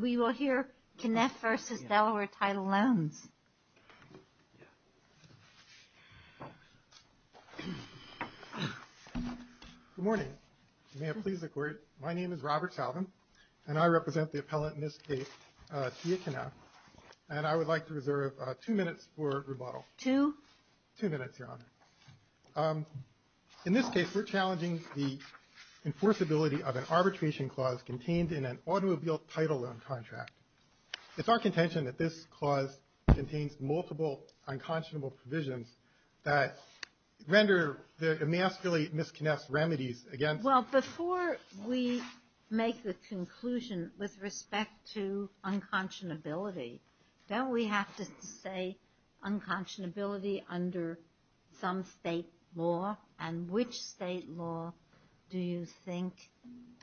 We will hear Knaff v. Delaware Title Loans. Good morning. My name is Robert Salvin, and I represent the appellant in this case, Tia Knaff. And I would like to reserve two minutes for rebuttal. Two? Two minutes, Your Honor. In this case, we're challenging the enforceability of an arbitration clause contained in an automobile title loan contract. It's our contention that this clause contains multiple unconscionable provisions that render the masterly Miss Knaff's remedies against her. Well, before we make the conclusion with respect to unconscionability, don't we have to say unconscionability under some state law? And which state law do you think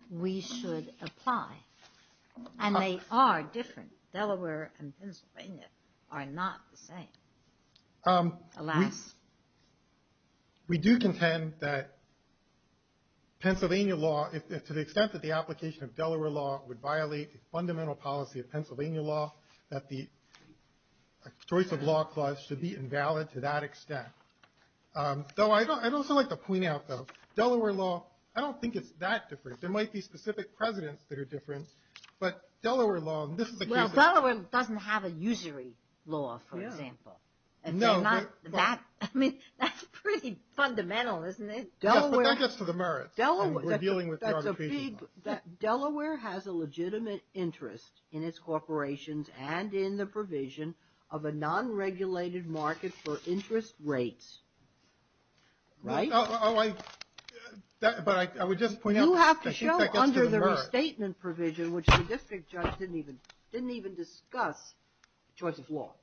we should apply? And they are different. Delaware and Pennsylvania are not the same. Alas. We do contend that Pennsylvania law, to the extent that the application of Delaware law would violate the fundamental policy of Pennsylvania law, that the choice of law clause should be invalid to that extent. Though I'd also like to point out, though, Delaware law, I don't think it's that different. There might be specific presidents that are different, but Delaware law, and this is a case of- Well, Delaware doesn't have a usury law, for example. No. I mean, that's pretty fundamental, isn't it? Yes, but that gets to the merits. Delaware has a legitimate interest in its corporations and in the provision of a non-regulated market for interest rates. Right? But I would just point out- You have to show under the restatement provision, which the district judge didn't even discuss choice of law,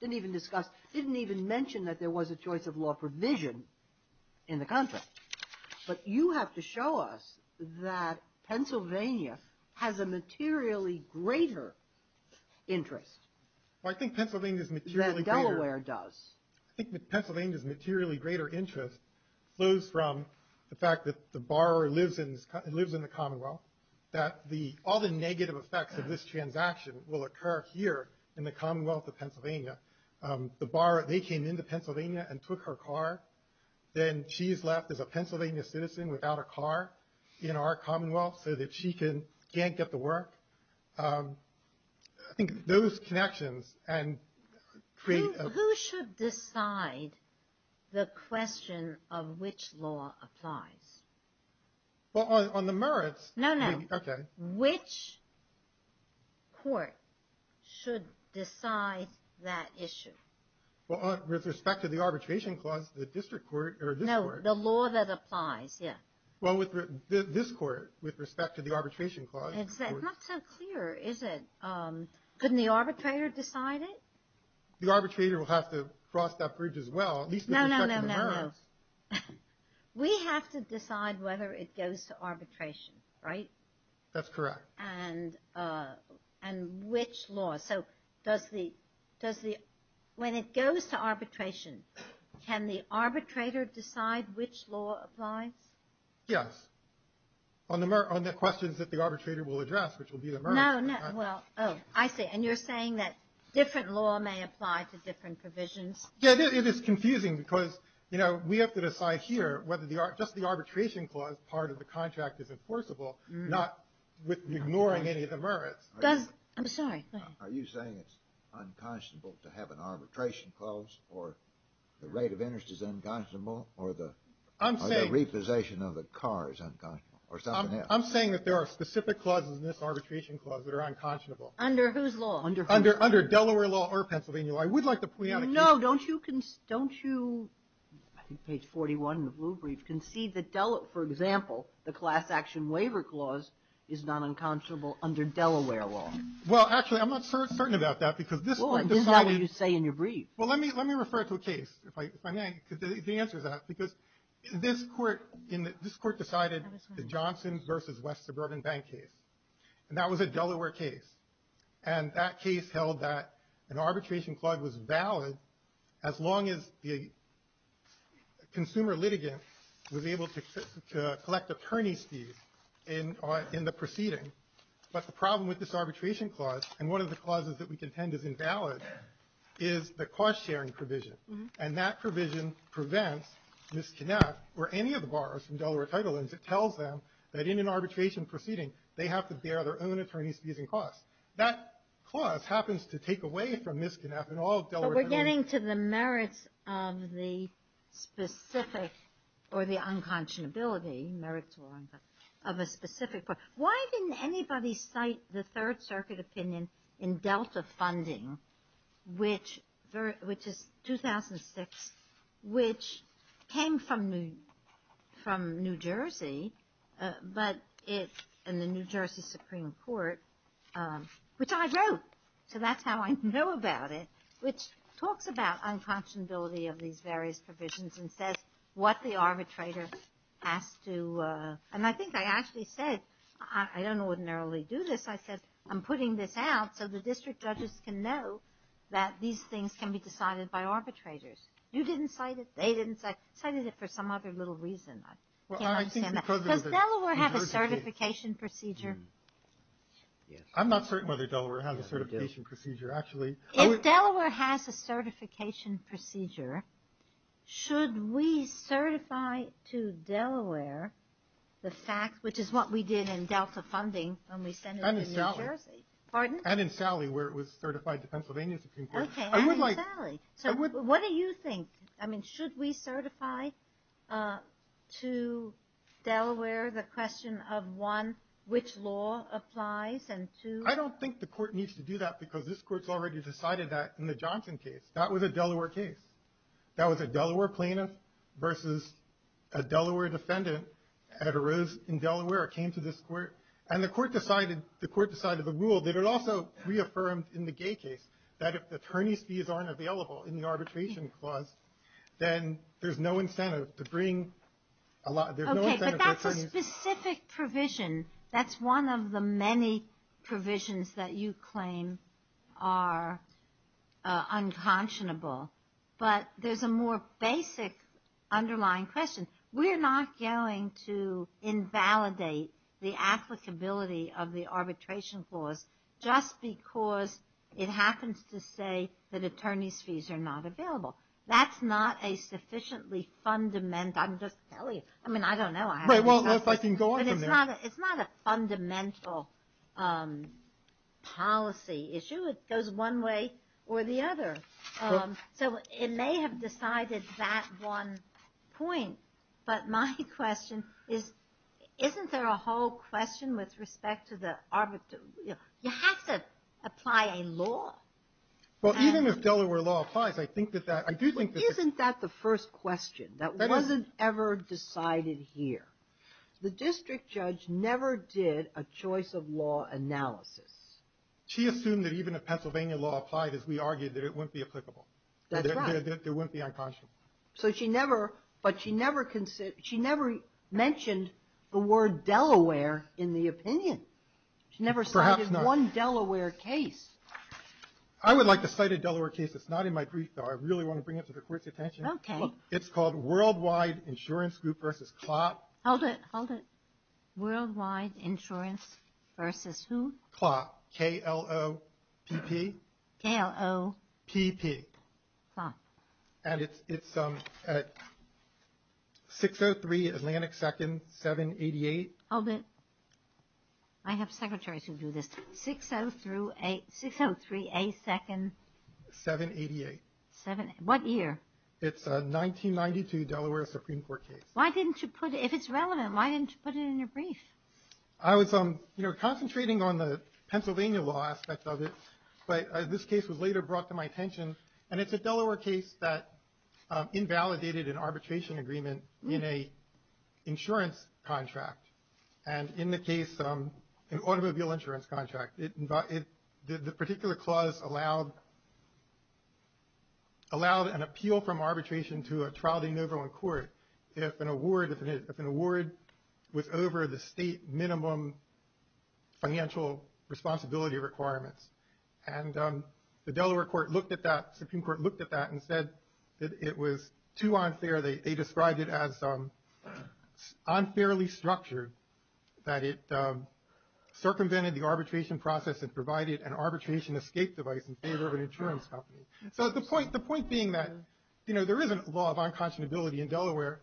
didn't even mention that there was a choice of law provision in the contract. But you have to show us that Pennsylvania has a materially greater interest- Well, I think Pennsylvania's materially greater- That Delaware does. I think Pennsylvania's materially greater interest flows from the fact that the borrower lives in the Commonwealth, that all the negative effects of this transaction will occur here in the Commonwealth of Pennsylvania. The borrower, they came into Pennsylvania and took her car, then she's left as a Pennsylvania citizen without a car in our Commonwealth so that she can't get to work. I think those connections and create- Who should decide the question of which law applies? Well, on the merits- No, no. Okay. Which court should decide that issue? With respect to the arbitration clause, the district court or this court- No, the law that applies, yeah. Well, this court, with respect to the arbitration clause- It's not so clear, is it? Couldn't the arbitrator decide it? The arbitrator will have to cross that bridge as well, at least with respect to the merits. No, no, no, no, no. We have to decide whether it goes to arbitration, right? That's correct. And which law? So does the- When it goes to arbitration, can the arbitrator decide which law applies? Yes. On the questions that the arbitrator will address, which will be the merits. No, no. Oh, I see. And you're saying that different law may apply to different provisions? Yeah, it is confusing because, you know, we have to decide here whether just the arbitration clause part of the contract is enforceable, not ignoring any of the merits. I'm sorry. Are you saying it's unconscionable to have an arbitration clause or the rate of interest is unconscionable, or the repossession of a car is unconscionable, or something else? I'm saying that there are specific clauses in this arbitration clause that are unconscionable. Under whose law? Under Delaware law or Pennsylvania law. I would like to- No, don't you- I think page 41 in the blue brief can see that, for example, the class action waiver clause is not unconscionable under Delaware law. Well, actually, I'm not certain about that because this Court decided- Well, it is not what you say in your brief. Well, let me refer it to a case, if I may, because the answer is that, because this Court decided the Johnson v. West Suburban Bank case, and that was a Delaware case. And that case held that an arbitration clause was valid as long as the consumer litigant was able to collect attorney's fees in the proceeding. But the problem with this arbitration clause, and one of the clauses that we contend is invalid, is the cost-sharing provision. And that provision prevents Ms. Knapp or any of the borrowers from Delaware Title Ins. It tells them that in an arbitration proceeding, they have to bear their own attorney's fees and costs. That clause happens to take away from Ms. Knapp and all of Delaware Title Ins. Getting to the merits of the specific, or the unconscionability, merits of a specific- Why didn't anybody cite the Third Circuit opinion in Delta funding, which is 2006, which came from New Jersey, and the New Jersey Supreme Court, which I wrote, so that's how I know about it, which talks about unconscionability of these various provisions and says what the arbitrator has to, and I think I actually said, I don't ordinarily do this, I said, I'm putting this out so the district judges can know that these things can be decided by arbitrators. You didn't cite it. They didn't cite it. Cited it for some other little reason. I can't understand that. Does Delaware have a certification procedure? I'm not certain whether Delaware has a certification procedure, actually. If Delaware has a certification procedure, should we certify to Delaware the fact, which is what we did in Delta funding when we sent it to New Jersey. Pardon? And in Sally, where it was certified to Pennsylvania Supreme Court. Okay, and in Sally. So what do you think? I mean, should we certify to Delaware the question of one, which law applies, and two. I don't think the court needs to do that because this court's already decided that in the Johnson case. That was a Delaware case. That was a Delaware plaintiff versus a Delaware defendant. It arose in Delaware, it came to this court, and the court decided, the court decided the rule that it also reaffirmed in the Gay case, that if the attorney's fees aren't available in the arbitration clause, then there's no incentive to bring a lot. Okay, but that's a specific provision. That's one of the many provisions that you claim are unconscionable. But there's a more basic underlying question. We're not going to invalidate the applicability of the arbitration clause just because it happens to say that attorney's fees are not available. That's not a sufficiently fundamental. I'm just telling you. I mean, I don't know. Right, well, if I can go on from there. It's not a fundamental policy issue. It goes one way or the other. So it may have decided that one point, but my question is, isn't there a whole question with respect to the arbitration? You have to apply a law. Well, even if Delaware law applies, I think that that, I do think that. Isn't that the first question? That wasn't ever decided here. The district judge never did a choice of law analysis. She assumed that even if Pennsylvania law applied, as we argued, that it wouldn't be applicable. That's right. That it wouldn't be unconscionable. But she never mentioned the word Delaware in the opinion. She never cited one Delaware case. I would like to cite a Delaware case. It's not in my brief, though. I really want to bring it to the court's attention. It's called Worldwide Insurance Group versus Klopp. Hold it, hold it. Worldwide Insurance versus who? Klopp, K-L-O-P-P. K-L-O-P-P. Klopp. And it's 603 Atlantic 2nd, 788. Hold it. I have secretaries who do this. 603A 2nd. 788. What year? It's a 1992 Delaware Supreme Court case. Why didn't you put it? If it's relevant, why didn't you put it in your brief? I was concentrating on the Pennsylvania law aspect of it, but this case was later brought to my attention. And it's a Delaware case that invalidated an arbitration agreement in an insurance contract. And in the case, an automobile insurance contract. The particular clause allowed an appeal from arbitration to a trial de novo in court if an award was over the state minimum financial responsibility requirements. And the Delaware Supreme Court looked at that and said that it was too unfair. They described it as unfairly structured, that it circumvented the arbitration process and provided an arbitration escape device in favor of an insurance company. So the point being that there is a law of unconscionability in Delaware.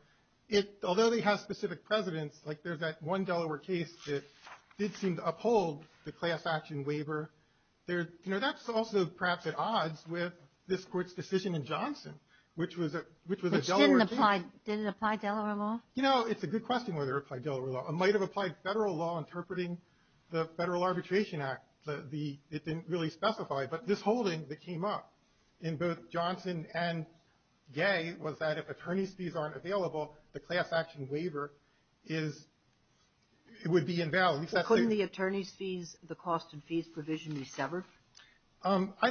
Although they have specific presidents, like there's that one Delaware case that did seem to uphold the class action waiver. That's also perhaps at odds with this court's decision in Johnson, which was a Delaware case. Did it apply Delaware law? It's a good question whether it applied Delaware law. It might have applied federal law interpreting the Federal Arbitration Act. It didn't really specify. But this holding that came up in both Johnson and Gay was that if attorney's fees aren't available, the class action waiver would be invalid. Couldn't the attorney's fees, the cost of fees provision be severed? I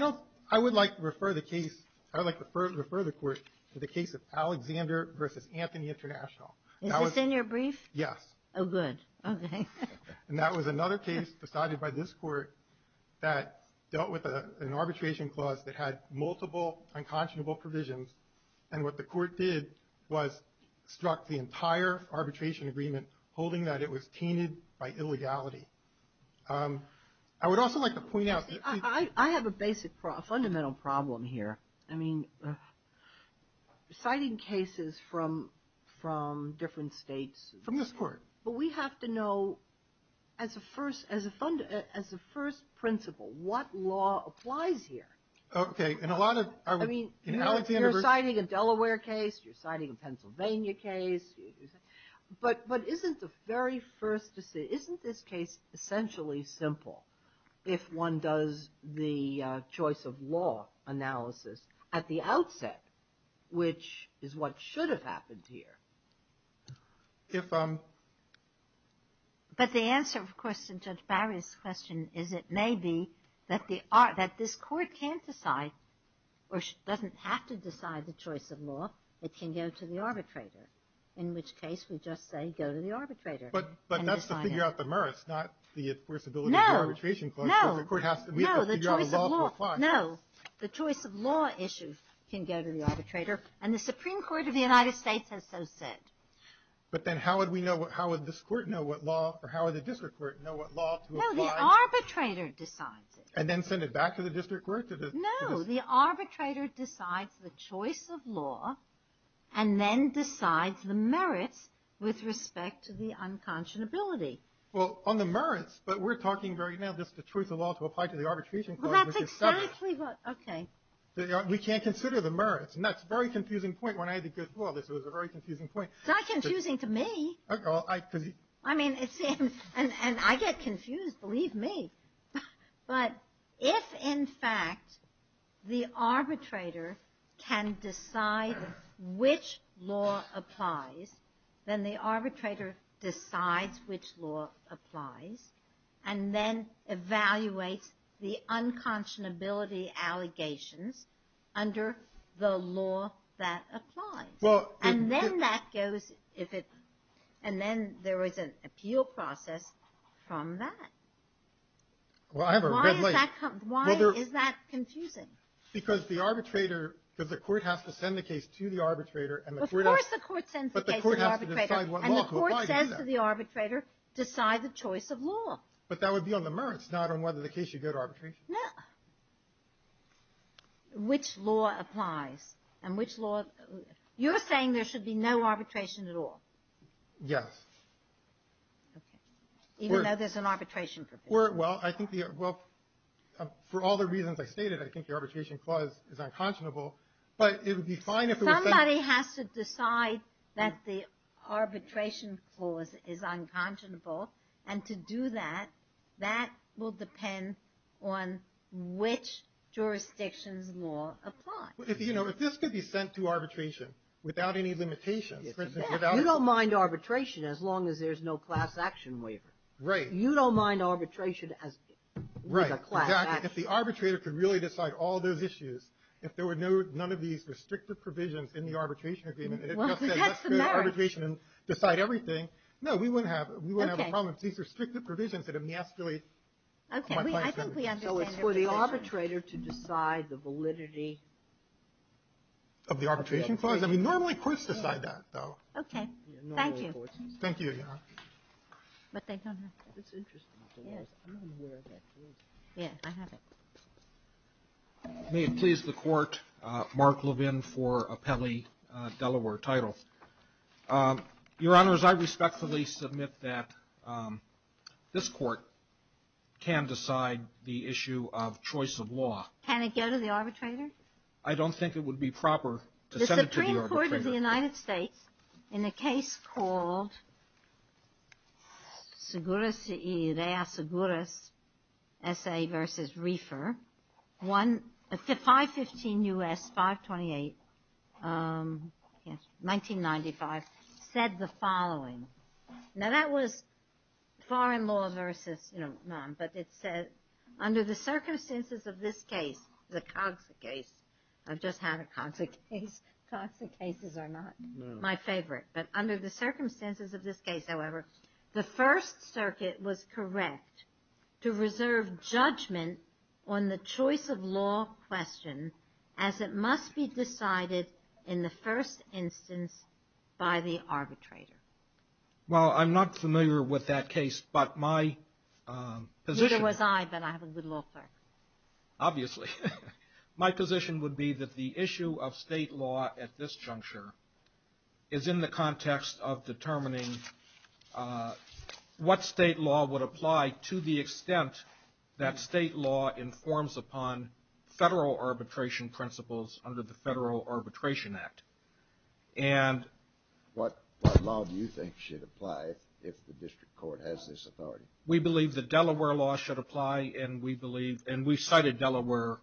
would like to refer the case to the case of Alexander v. Anthony International. Is this in your brief? Yes. Oh, good. Okay. And that was another case decided by this court that dealt with an arbitration clause that had multiple unconscionable provisions. And what the court did was struck the entire arbitration agreement, holding that it was tainted by illegality. I would also like to point out. I have a fundamental problem here. I mean, citing cases from different states. From this court. But we have to know, as a first principle, what law applies here. Okay. I mean, you're citing a Delaware case. You're citing a Pennsylvania case. But isn't the very first decision, isn't this case essentially simple if one does the choice of law analysis at the outset, which is what should have happened here? But the answer, of course, to Judge Barry's question, is it may be that this court can't decide, or doesn't have to decide the choice of law. It can go to the arbitrator. In which case, we just say go to the arbitrator. But that's to figure out the merits, not the enforceability of the arbitration clause. No. No. No. The choice of law issues can go to the arbitrator. And the Supreme Court of the United States has so said. or how would the district court know what law to apply? No. The arbitrator decides it. And then send it back to the district court? No. The arbitrator decides the choice of law, and then decides the merits with respect to the unconscionability. Well, on the merits, but we're talking right now just the choice of law to apply to the arbitration clause. Well, that's exactly what. Okay. We can't consider the merits. And that's a very confusing point. Well, this was a very confusing point. It's not confusing to me. I mean, and I get confused. Believe me. But if, in fact, the arbitrator can decide which law applies, then the arbitrator decides which law applies and then evaluates the unconscionability allegations under the law that applies. And then that goes, and then there is an appeal process from that. Well, I have a red light. Why is that confusing? Because the arbitrator, because the court has to send the case to the arbitrator. Of course the court sends the case to the arbitrator. But the court has to decide what law to apply to that. And the court says to the arbitrator, decide the choice of law. But that would be on the merits, not on whether the case should go to arbitration. No. Which law applies? And which law, you're saying there should be no arbitration at all? Yes. Okay. Even though there's an arbitration provision. Well, I think the, well, for all the reasons I stated, I think the arbitration clause is unconscionable. But it would be fine if it was said. Somebody has to decide that the arbitration clause is unconscionable. And to do that, that will depend on which jurisdiction's law applies. You know, if this could be sent to arbitration without any limitations. You don't mind arbitration as long as there's no class action waiver. Right. You don't mind arbitration as being a class action waiver. Right, exactly. If the arbitrator could really decide all those issues, if there were none of these restrictive provisions in the arbitration agreement, and it just said let's go to arbitration and decide everything, no, we wouldn't have a problem. Okay. These are restrictive provisions that emasculate. Okay. I think we understand. So it's for the arbitrator to decide the validity. Of the arbitration clause? I mean, normally courts decide that, though. Okay. Thank you. Thank you, Your Honor. But they don't have to. That's interesting. Yes. I'm not aware of that clause. Yeah, I have it. May it please the Court, Mark Levin for a Pele, Delaware title. Your Honors, I respectfully submit that this Court can decide the issue of choice of law. Can it go to the arbitrator? I don't think it would be proper to send it to the arbitrator. The Supreme Court of the United States, in a case called Segura S.A. v. Reifer, 515 U.S., 528, 1995, said the following. Now, that was foreign law versus, you know, none. But it said, under the circumstances of this case, the Cogsa case. I've just had a Cogsa case. Cogsa cases are not my favorite. But under the circumstances of this case, however, the First Circuit was correct to reserve judgment on the choice of law question as it must be decided in the first instance by the arbitrator. Well, I'm not familiar with that case. Neither was I, but I have a good law third. Obviously. My position would be that the issue of state law at this juncture is in the context of determining what state law would apply to the extent that state law informs upon federal arbitration principles under the Federal Arbitration Act. And what law do you think should apply if the district court has this authority? We believe the Delaware law should apply, and we cited Delaware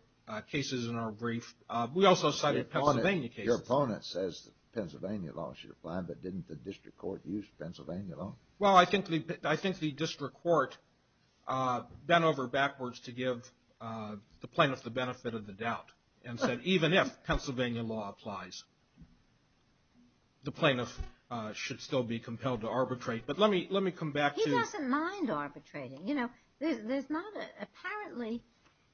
cases in our brief. We also cited Pennsylvania cases. Your opponent says Pennsylvania law should apply, but didn't the district court use Pennsylvania law? Well, I think the district court bent over backwards to give the plaintiff the benefit of the doubt and said even if Pennsylvania law applies, the plaintiff should still be compelled to arbitrate. But let me come back to you. He doesn't mind arbitrating. Apparently,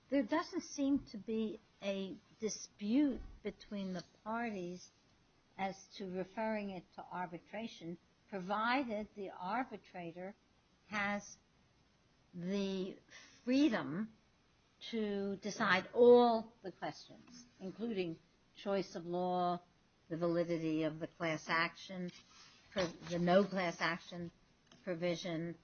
there doesn't seem to be a dispute between the parties as to referring it to arbitration, provided the arbitrator has the freedom to decide all the questions, including choice of law, the validity of the class action, the no class action provision,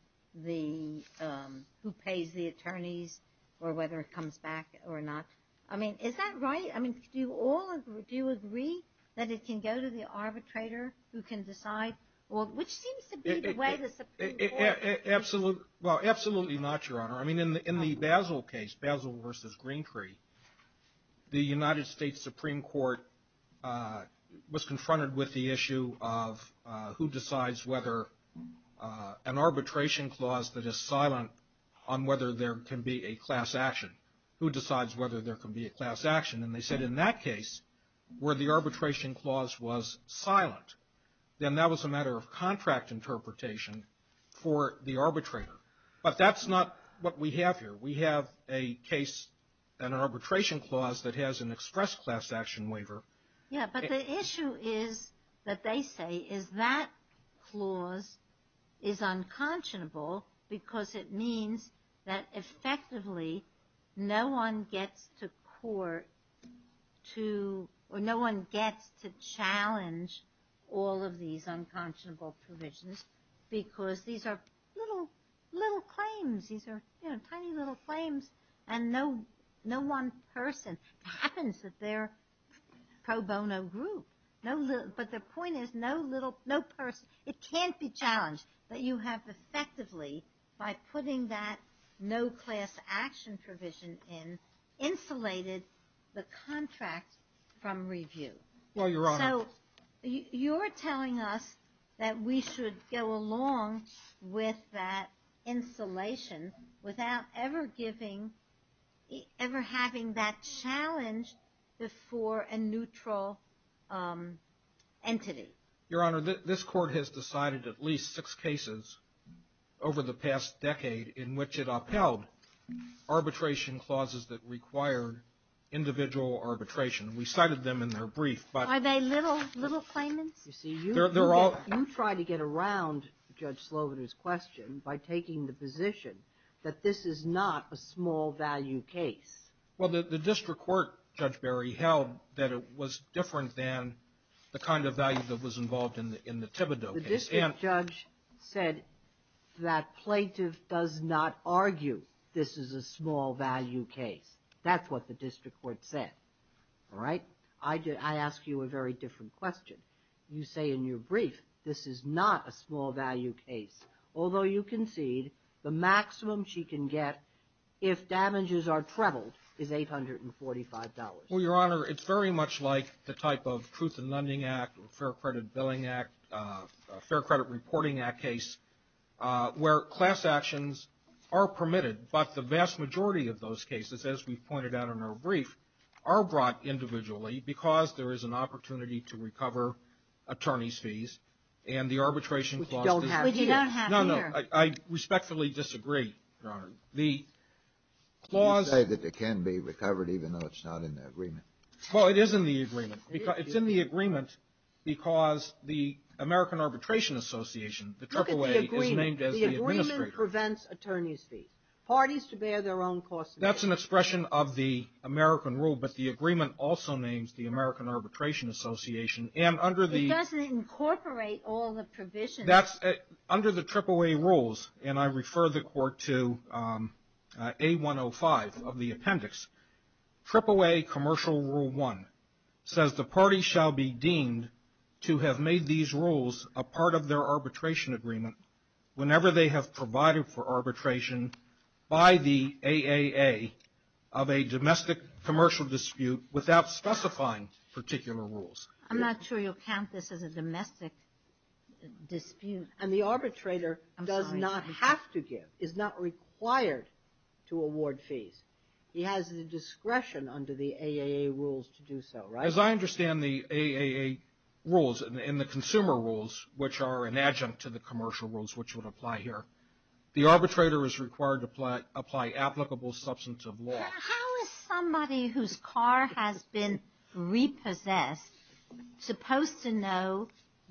who pays the attorneys, or whether it comes back or not. I mean, is that right? I mean, do you all agree that it can go to the arbitrator who can decide, which seems to be the way the Supreme Court… Absolutely not, Your Honor. I mean, in the Basel case, Basel v. Greentree, the United States Supreme Court was confronted with the issue of who decides whether an arbitration clause that is silent on whether there can be a class action. Who decides whether there can be a class action? And they said in that case where the arbitration clause was silent, then that was a matter of contract interpretation for the arbitrator. But that's not what we have here. We have a case, an arbitration clause that has an express class action waiver. Yeah, but the issue is that they say is that clause is unconscionable because it means that effectively no one gets to court to, or no one gets to challenge all of these unconscionable provisions because these are little claims. These are, you know, tiny little claims, and no one person. It happens that they're pro bono group. But the point is no little, no person. It can't be challenged that you have effectively, by putting that no class action provision in, insulated the contract from review. Well, Your Honor. So you're telling us that we should go along with that insulation without ever giving, ever having that challenge before a neutral entity. Your Honor, this Court has decided at least six cases over the past decade in which it upheld arbitration clauses that required individual arbitration. We cited them in their brief, but. Are they little, little claimants? You see, you try to get around Judge Slovener's question by taking the position that this is not a small value case. Well, the district court, Judge Berry, held that it was different than the kind of value that was involved in the Thibodeau case. The district judge said that plaintiff does not argue this is a small value case. That's what the district court said. All right? I ask you a very different question. You say in your brief this is not a small value case. Although you concede the maximum she can get if damages are trebled is $845. Well, Your Honor, it's very much like the type of Truth in Lending Act or Fair Credit Billing Act, Fair Credit Reporting Act case where class actions are permitted, but the vast majority of those cases, as we pointed out in our brief, are brought individually because there is an opportunity to recover attorney's fees and the arbitration clause. Which you don't have here. No, no. I respectfully disagree, Your Honor. The clause — You say that it can be recovered even though it's not in the agreement. Well, it is in the agreement. It is. It's in the agreement because the American Arbitration Association, the AAA — Look at the agreement. — is named as the administrator. The agreement prevents attorney's fees. Parties to bear their own costs. That's an expression of the American rule, but the agreement also names the American Arbitration Association and under the — It doesn't incorporate all the provisions. Under the AAA rules, and I refer the Court to A105 of the appendix, AAA Commercial Rule 1 says the party shall be deemed to have made these rules a part of their arbitration agreement whenever they have provided for arbitration by the AAA of a domestic commercial dispute without specifying particular rules. I'm not sure you'll count this as a domestic dispute. And the arbitrator does not have to give, is not required to award fees. He has the discretion under the AAA rules to do so, right? As I understand the AAA rules and the consumer rules, which are an adjunct to the commercial rules which would apply here, the arbitrator is required to apply applicable substantive law. How is somebody whose car has been repossessed supposed to know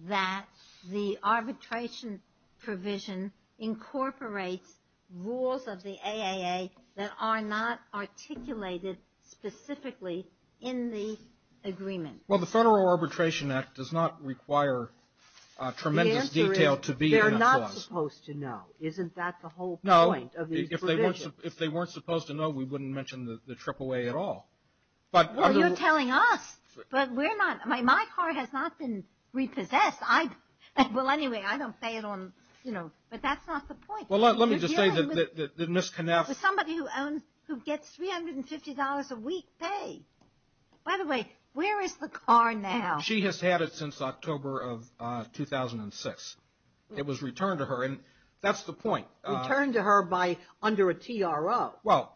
that the arbitration provision incorporates rules of the AAA that are not articulated specifically in the agreement? Well, the Federal Arbitration Act does not require tremendous detail to be in a clause. The answer is they're not supposed to know. If they weren't supposed to know, we wouldn't mention the AAA at all. Well, you're telling us. But we're not. My car has not been repossessed. Well, anyway, I don't say it on, you know, but that's not the point. Well, let me just say that Ms. Knauss. Somebody who owns, who gets $350 a week pay. By the way, where is the car now? She has had it since October of 2006. It was returned to her, and that's the point. Returned to her by, under a TRO. Well,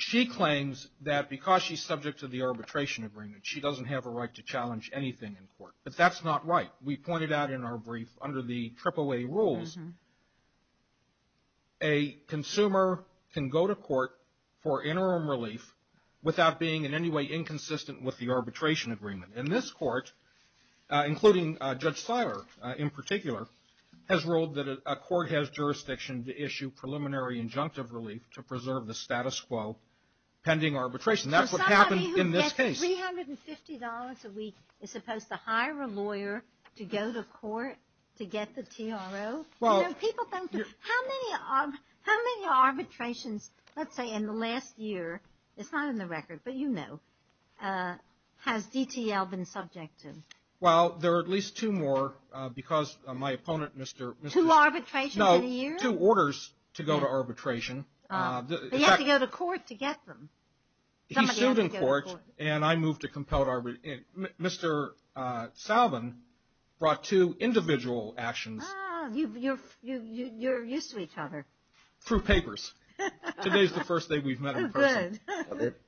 she claims that because she's subject to the arbitration agreement, she doesn't have a right to challenge anything in court. But that's not right. We pointed out in our brief, under the AAA rules, a consumer can go to court for interim relief without being in any way inconsistent with the arbitration agreement. And this court, including Judge Siler in particular, has ruled that a court has jurisdiction to issue preliminary injunctive relief to preserve the status quo pending arbitration. That's what happened in this case. So somebody who gets $350 a week is supposed to hire a lawyer to go to court to get the TRO? You know, people don't, how many arbitrations, let's say in the last year, it's not in the record, but you know, has DTL been subject to? Well, there are at least two more because my opponent, Mr. Two arbitrations in a year? No, two orders to go to arbitration. But you have to go to court to get them. He sued in court, and I moved to compelled arbitration. Mr. Salvin brought two individual actions. You're used to each other. Through papers. Today's the first day we've met in person.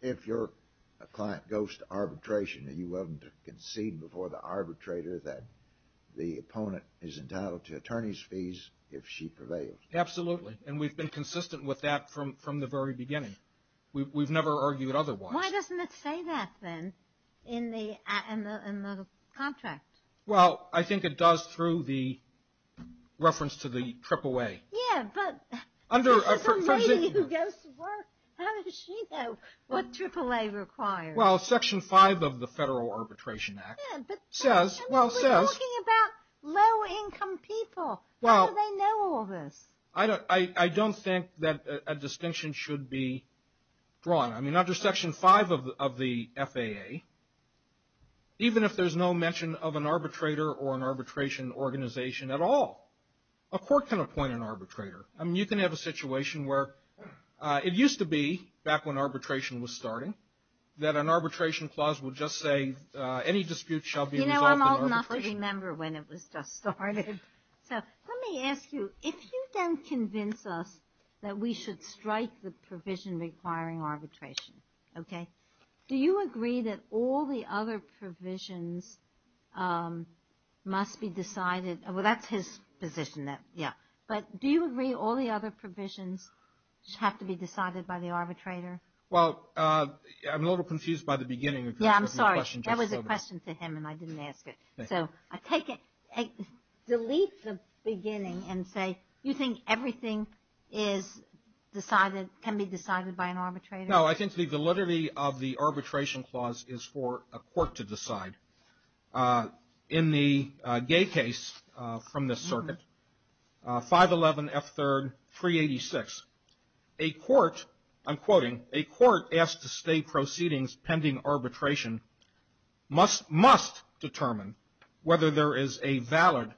If your client goes to arbitration, are you willing to concede before the arbitrator that the opponent is entitled to attorney's fees if she prevails? Absolutely. And we've been consistent with that from the very beginning. We've never argued otherwise. Why doesn't it say that then in the contract? Well, I think it does through the reference to the AAA. Yeah, but it's a lady who goes to work. How does she know what AAA requires? Well, Section 5 of the Federal Arbitration Act says. We're talking about low-income people. How do they know all this? I don't think that a distinction should be drawn. I mean, under Section 5 of the FAA, even if there's no mention of an arbitrator or an arbitration organization at all, a court can appoint an arbitrator. I mean, you can have a situation where it used to be, back when arbitration was starting, that an arbitration clause would just say, any dispute shall be resolved in arbitration. You know, I'm old enough to remember when it was just starting. So let me ask you, if you then convince us that we should strike the provision requiring arbitration, okay, do you agree that all the other provisions must be decided? Well, that's his position, yeah. But do you agree all the other provisions have to be decided by the arbitrator? Well, I'm a little confused by the beginning. Yeah, I'm sorry. That was a question to him, and I didn't ask it. So delete the beginning and say, you think everything can be decided by an arbitrator? No, I think the validity of the arbitration clause is for a court to decide. In the Gay case from the circuit, 511F3-386, a court, I'm quoting, a court asked to state proceedings pending arbitration must determine whether there is a valid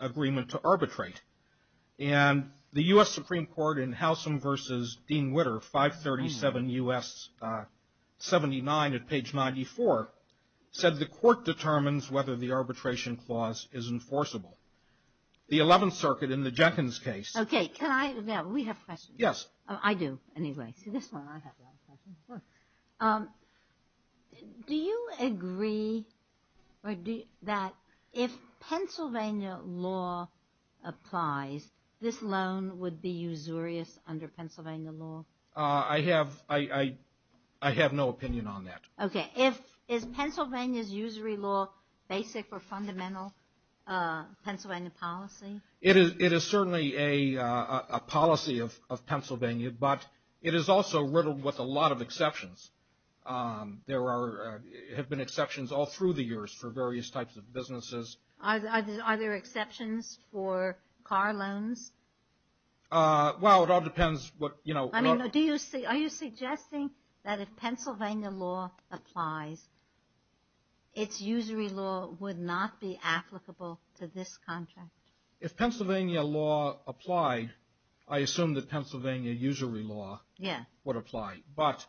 agreement to arbitrate. And the U.S. Supreme Court in Howsam v. Dean Witter, 537 U.S. 79 at page 94, said the court determines whether the arbitration clause is enforceable. The 11th Circuit in the Jenkins case. Okay. Now, we have questions. Yes. I do, anyway. See, this one I have a lot of questions. Do you agree that if Pennsylvania law applies, this loan would be usurious under Pennsylvania law? I have no opinion on that. Okay. Is Pennsylvania's usury law basic or fundamental Pennsylvania policy? It is certainly a policy of Pennsylvania, but it is also riddled with a lot of exceptions. There have been exceptions all through the years for various types of businesses. Are there exceptions for car loans? Well, it all depends. Are you suggesting that if Pennsylvania law applies, its usury law would not be applicable to this contract? If Pennsylvania law applied, I assume that Pennsylvania usury law would apply.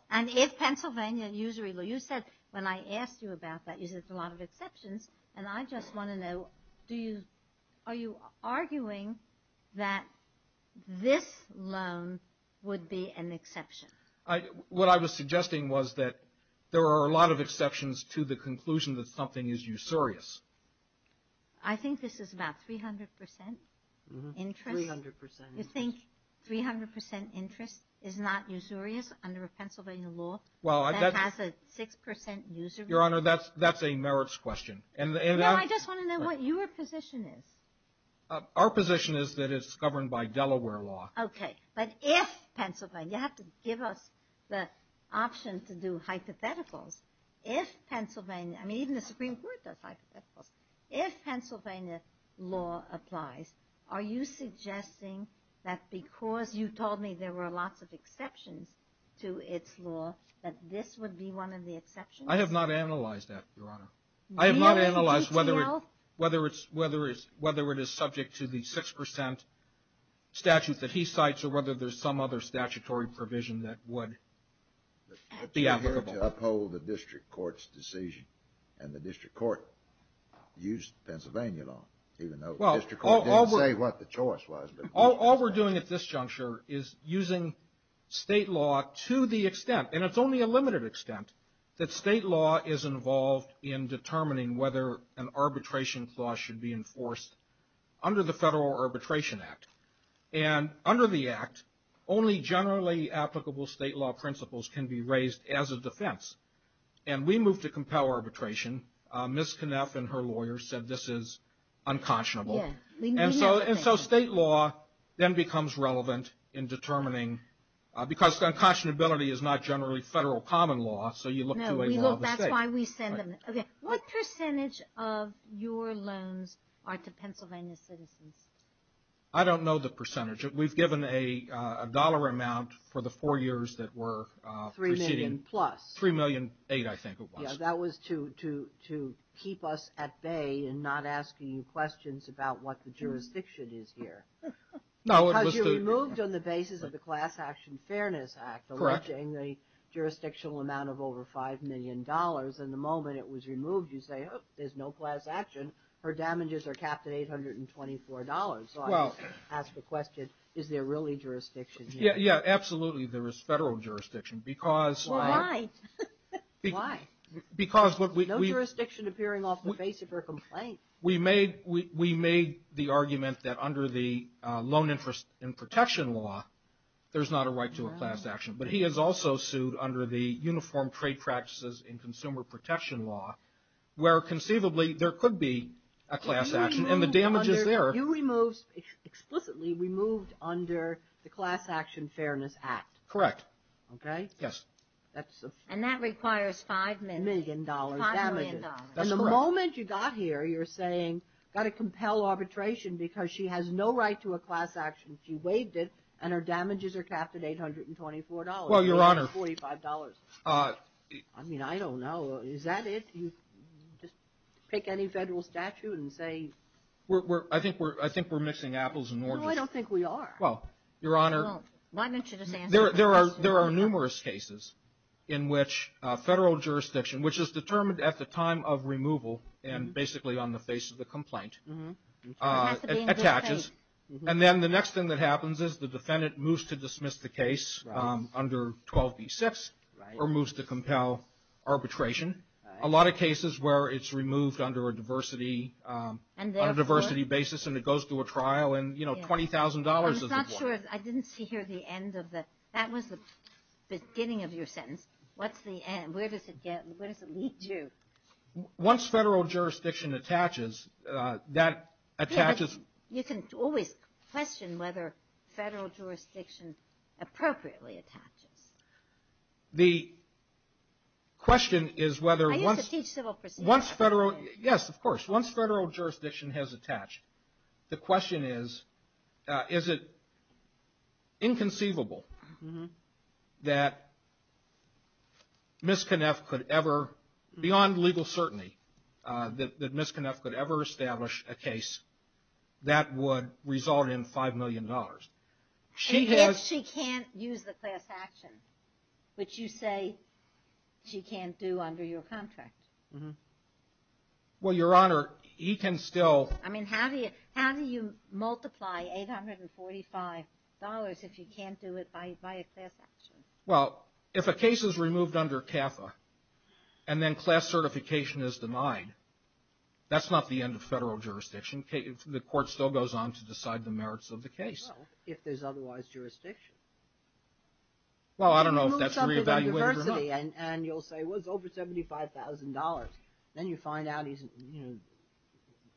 And if Pennsylvania usury law, you said when I asked you about that, you said it's a lot of exceptions, and I just want to know, are you arguing that this loan would be an exception? What I was suggesting was that there are a lot of exceptions to the conclusion that something is usurious. I think this is about 300% interest. You think 300% interest is not usurious under a Pennsylvania law that has a 6% usury? Your Honor, that's a merits question. No, I just want to know what your position is. Our position is that it's governed by Delaware law. Okay. But if Pennsylvania, you have to give us the option to do hypotheticals. If Pennsylvania, I mean, even the Supreme Court does hypotheticals. If Pennsylvania law applies, are you suggesting that because you told me there were lots of exceptions to its law, that this would be one of the exceptions? I have not analyzed that, Your Honor. I have not analyzed whether it is subject to the 6% statute that he cites or whether there's some other statutory provision that would be applicable. But you're here to uphold the district court's decision, and the district court used Pennsylvania law, even though the district court didn't say what the choice was. All we're doing at this juncture is using state law to the extent, and it's only a limited extent, that state law is involved in determining whether an arbitration clause should be enforced under the Federal Arbitration Act. And under the Act, only generally applicable state law principles can be raised as a defense. And we moved to compel arbitration. Ms. Knapp and her lawyer said this is unconscionable. And so state law then becomes relevant in determining, because unconscionability is not generally federal common law, so you look to a law of the state. That's why we send them. What percentage of your loans are to Pennsylvania citizens? I don't know the percentage. We've given a dollar amount for the four years that we're proceeding. Three million plus. Three million eight, I think it was. Yeah, that was to keep us at bay in not asking you questions about what the jurisdiction is here. Because you removed on the basis of the Class Action Fairness Act, alleging the jurisdictional amount of over $5 million. And the moment it was removed, you say, oh, there's no class action. Her damages are capped at $824. So I asked the question, is there really jurisdiction here? Yeah, absolutely there is federal jurisdiction. Well, why? No jurisdiction appearing off the face of her complaint. We made the argument that under the Loan Interest and Protection Law, there's not a right to a class action. But he has also sued under the Uniform Trade Practices and Consumer Protection Law, where conceivably there could be a class action, and the damage is there. You explicitly removed under the Class Action Fairness Act. Correct. Okay. Yes. And that requires $5 million. $5 million. That's correct. And the moment you got here, you're saying, got to compel arbitration because she has no right to a class action. She waived it, and her damages are capped at $824. Well, Your Honor. $845. I mean, I don't know. Is that it? You just pick any federal statute and say. I think we're mixing apples and oranges. No, I don't think we are. Well, Your Honor. Well, why don't you just answer the question? There are numerous cases in which federal jurisdiction, which is determined at the time of removal, and basically on the face of the complaint, attaches. And then the next thing that happens is the defendant moves to dismiss the case under 12b-6, or moves to compel arbitration. A lot of cases where it's removed under a diversity basis, and it goes through a trial, and $20,000 is it worth. I didn't see here the end of the. That was the beginning of your sentence. What's the end? Where does it lead you? Once federal jurisdiction attaches, that attaches. You can always question whether federal jurisdiction appropriately attaches. The question is whether. I used to teach civil proceedings. Yes, of course. Once federal jurisdiction has attached, the question is, is it inconceivable that Ms. Knapp could ever, beyond legal certainty, that Ms. Knapp could ever establish a case that would result in $5 million. And yet she can't use the class action, which you say she can't do under your contract. Well, Your Honor, he can still. I mean, how do you multiply $845 if you can't do it by a class action? Well, if a case is removed under CAFA, and then class certification is denied, that's not the end of federal jurisdiction. The court still goes on to decide the merits of the case. Well, if there's otherwise jurisdiction. Well, I don't know if that's re-evaluated or not. And you'll say, well, it's over $75,000. Then you find out he's, you know,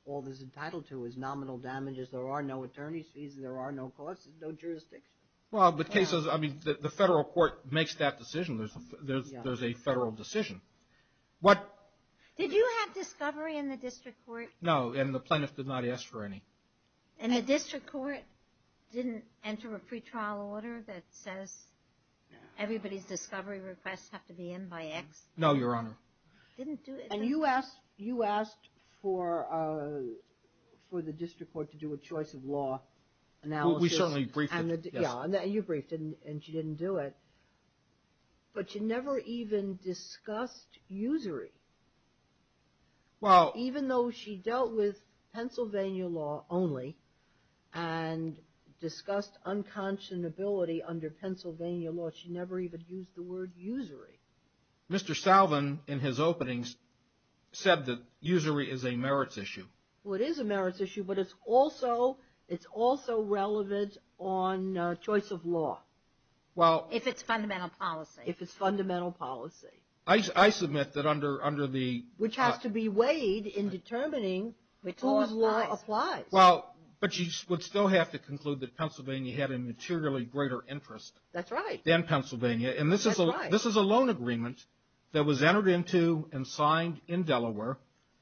all he's entitled to is nominal damages. There are no attorney's fees. There are no costs. There's no jurisdiction. Well, but cases, I mean, the federal court makes that decision. There's a federal decision. Did you have discovery in the district court? No, and the plaintiff did not ask for any. And the district court didn't enter a pretrial order that says everybody's discovery requests have to be in by X? No, Your Honor. Didn't do anything? And you asked for the district court to do a choice of law analysis. Well, we certainly briefed it, yes. Yeah, and you briefed it, and she didn't do it. But she never even discussed usury. Well. Even though she dealt with Pennsylvania law only and discussed unconscionability under Pennsylvania law, she never even used the word usury. Mr. Salvin, in his openings, said that usury is a merits issue. Well, it is a merits issue, but it's also relevant on choice of law. Well. If it's fundamental policy. If it's fundamental policy. I submit that under the. Which has to be weighed in determining whose law applies. Well, but you would still have to conclude that Pennsylvania had a materially greater interest. That's right. Than Pennsylvania. That's right. And this is a loan agreement that was entered into and signed in Delaware.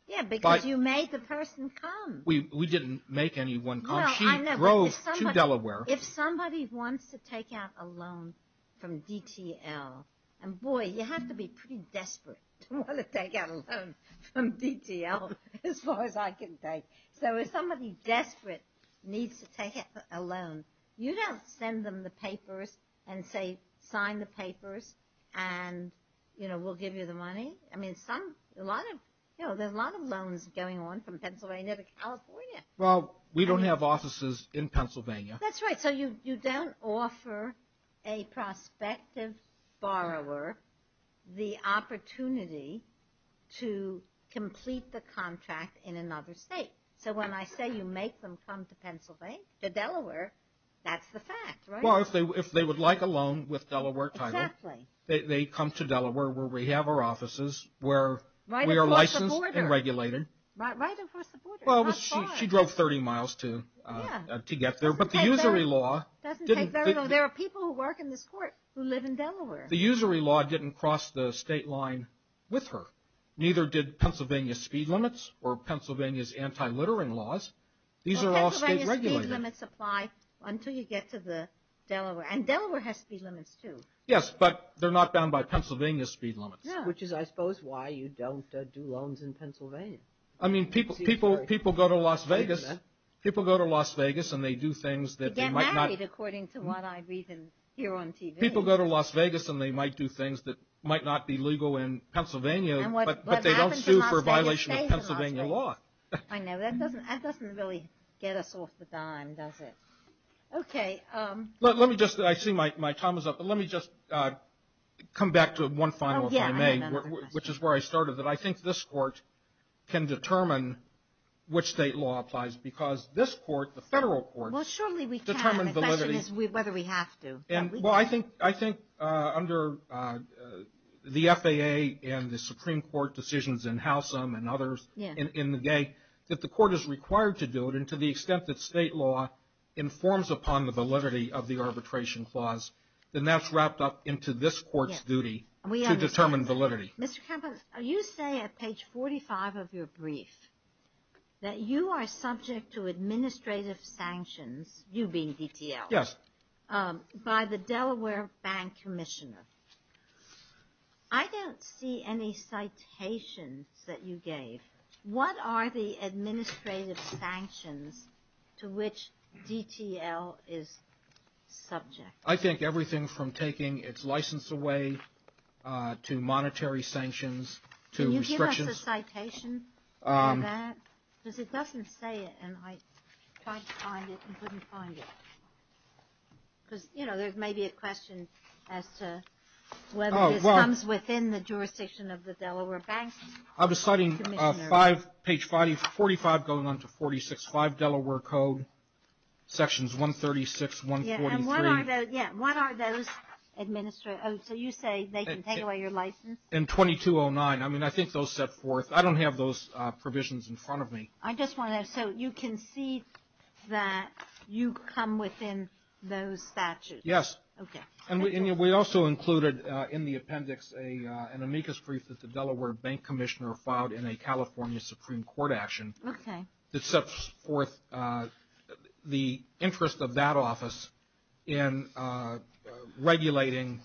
Yeah, because you made the person come. We didn't make anyone come. She drove to Delaware. If somebody wants to take out a loan from DTL. And, boy, you have to be pretty desperate to want to take out a loan from DTL, as far as I can take. So if somebody desperate needs to take out a loan, you don't send them the papers and say, sign the papers, and we'll give you the money. I mean, there's a lot of loans going on from Pennsylvania to California. Well, we don't have offices in Pennsylvania. That's right. So you don't offer a prospective borrower the opportunity to complete the contract in another state. So when I say you make them come to Pennsylvania, to Delaware, that's the fact, right? Well, if they would like a loan with Delaware title. Exactly. They come to Delaware, where we have our offices, where we are licensed and regulated. Right across the border. Well, she drove 30 miles to get there. It doesn't take very long. There are people who work in this court who live in Delaware. The usury law didn't cross the state line with her. Neither did Pennsylvania speed limits or Pennsylvania's anti-littering laws. These are all state regulated. Well, Pennsylvania speed limits apply until you get to Delaware. And Delaware has speed limits, too. Yes, but they're not bound by Pennsylvania speed limits. Which is, I suppose, why you don't do loans in Pennsylvania. I mean, people go to Las Vegas and they do things that they might not. They get married, according to what I read here on TV. People go to Las Vegas and they might do things that might not be legal in Pennsylvania, but they don't sue for violation of Pennsylvania law. I know. That doesn't really get us off the dime, does it? Okay. Let me just, I see my time is up, but let me just come back to one final, if I may, which is where I started. That I think this Court can determine which state law applies because this Court, the federal courts, determine validity. Well, surely we can. The question is whether we have to. Well, I think under the FAA and the Supreme Court decisions in Howsam and others in the day, that the Court is required to do it, and to the extent that state law informs upon the validity of the arbitration clause, then that's wrapped up into this Court's duty to determine validity. Mr. Campbell, you say at page 45 of your brief that you are subject to administrative sanctions, you being DTL. Yes. By the Delaware Bank Commissioner. I don't see any citations that you gave. What are the administrative sanctions to which DTL is subject? I think everything from taking its license away to monetary sanctions to restrictions. Can you give us a citation for that? Because it doesn't say it, and I tried to find it and couldn't find it. Because, you know, there may be a question as to whether this comes within the jurisdiction of the Delaware Bank Commissioner. I was citing page 45 going on to 46.5 Delaware Code, sections 136, 143. What are those? So you say they can take away your license? In 2209. I mean, I think those set forth. I don't have those provisions in front of me. I just want to know, so you can see that you come within those statutes? Yes. Okay. And we also included in the appendix an amicus brief that the Delaware Bank Commissioner filed in a California Supreme Court action that sets forth the interest of that office in regulating,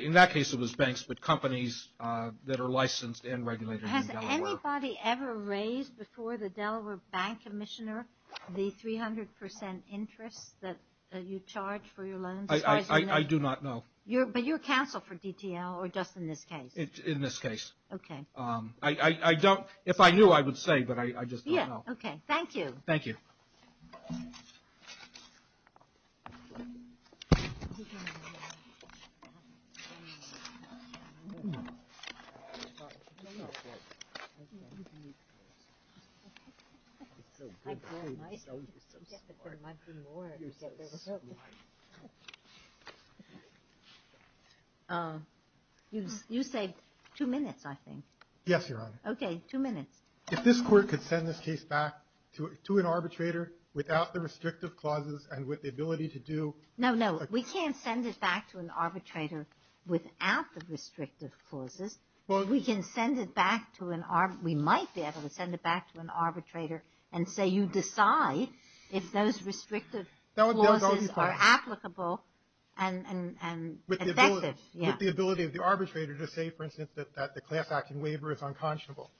in that case it was banks, but companies that are licensed and regulated in Delaware. Has anybody ever raised before the Delaware Bank Commissioner the 300 percent interest that you charge for your loans? I do not know. But you're counsel for DTL or just in this case? In this case. Okay. If I knew, I would say, but I just don't know. Okay. Thank you. Thank you. You say two minutes, I think. Yes, Your Honor. Okay, two minutes. If this court could send this case back to an arbitrator without the restrictive clauses and with the ability to do. No, no. We can't send it back to an arbitrator without the restrictive clauses. We can send it back to an, we might be able to send it back to an arbitrator and say you decide if those restrictive clauses are applicable and effective. With the ability of the arbitrator to say, for instance, that the class action waiver is unconscionable.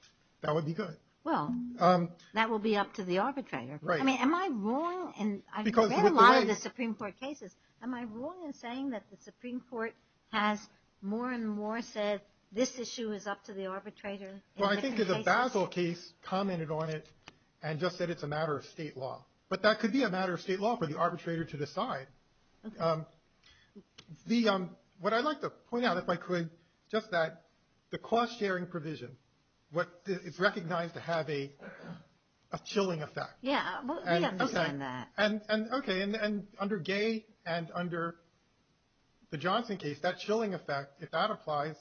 That would be good. Well, that would be up to the arbitrator. Right. I mean, am I wrong? I've read a lot of the Supreme Court cases. Am I wrong in saying that the Supreme Court has more and more said this issue is up to the arbitrator? Well, I think the Basel case commented on it and just said it's a matter of state law. But that could be a matter of state law for the arbitrator to decide. Okay. What I'd like to point out, if I could, just that the cost sharing provision, it's recognized to have a chilling effect. Yeah. We understand that. Okay. And under Gay and under the Johnson case, that chilling effect, if that applies,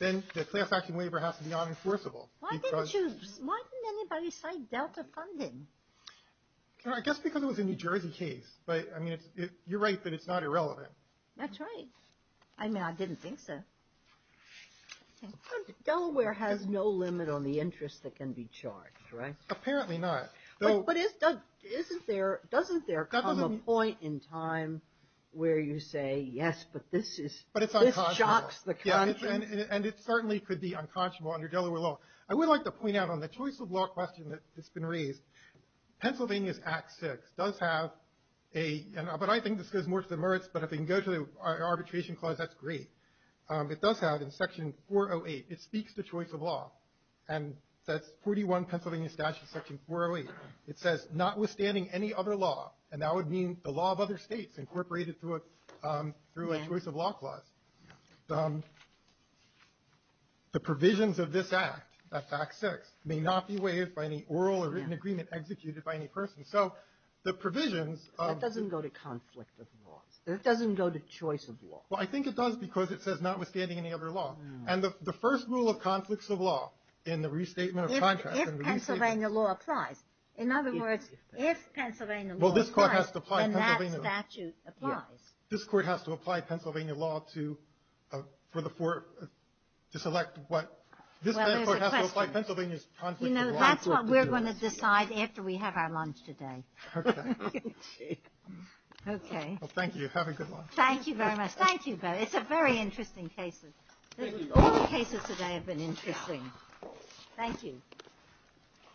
then the class action waiver has to be unenforceable. Why didn't anybody cite Delta funding? I guess because it was a New Jersey case. But, I mean, you're right that it's not irrelevant. That's right. I mean, I didn't think so. Delaware has no limit on the interest that can be charged, right? Apparently not. But doesn't there come a point in time where you say, yes, but this shocks the country? And it certainly could be unconscionable under Delaware law. I would like to point out on the choice of law question that's been raised, Pennsylvania's Act 6 does have a, but I think this goes more to the merits, but if we can go to the arbitration clause, that's great. It does have, in Section 408, it speaks to choice of law. And that's 41 Pennsylvania Statutes, Section 408. It says, notwithstanding any other law, and that would mean the law of other states incorporated through a choice of law clause, the provisions of this Act, that Fact 6, may not be waived by any oral or written agreement executed by any person. So the provisions of- That doesn't go to conflict of laws. That doesn't go to choice of law. Well, I think it does because it says, notwithstanding any other law. And the first rule of conflicts of law in the restatement of contracts- If Pennsylvania law applies. In other words, if Pennsylvania law applies- Well, this Court has to apply Pennsylvania law. And that statute applies. This Court has to apply Pennsylvania law to select what- Well, there's a question. This Court has to apply Pennsylvania's conflict of law to- You know, that's what we're going to decide after we have our lunch today. Okay. Okay. Well, thank you. Have a good lunch. Thank you very much. Thank you. It's a very interesting case. All the cases today have been interesting. Thank you.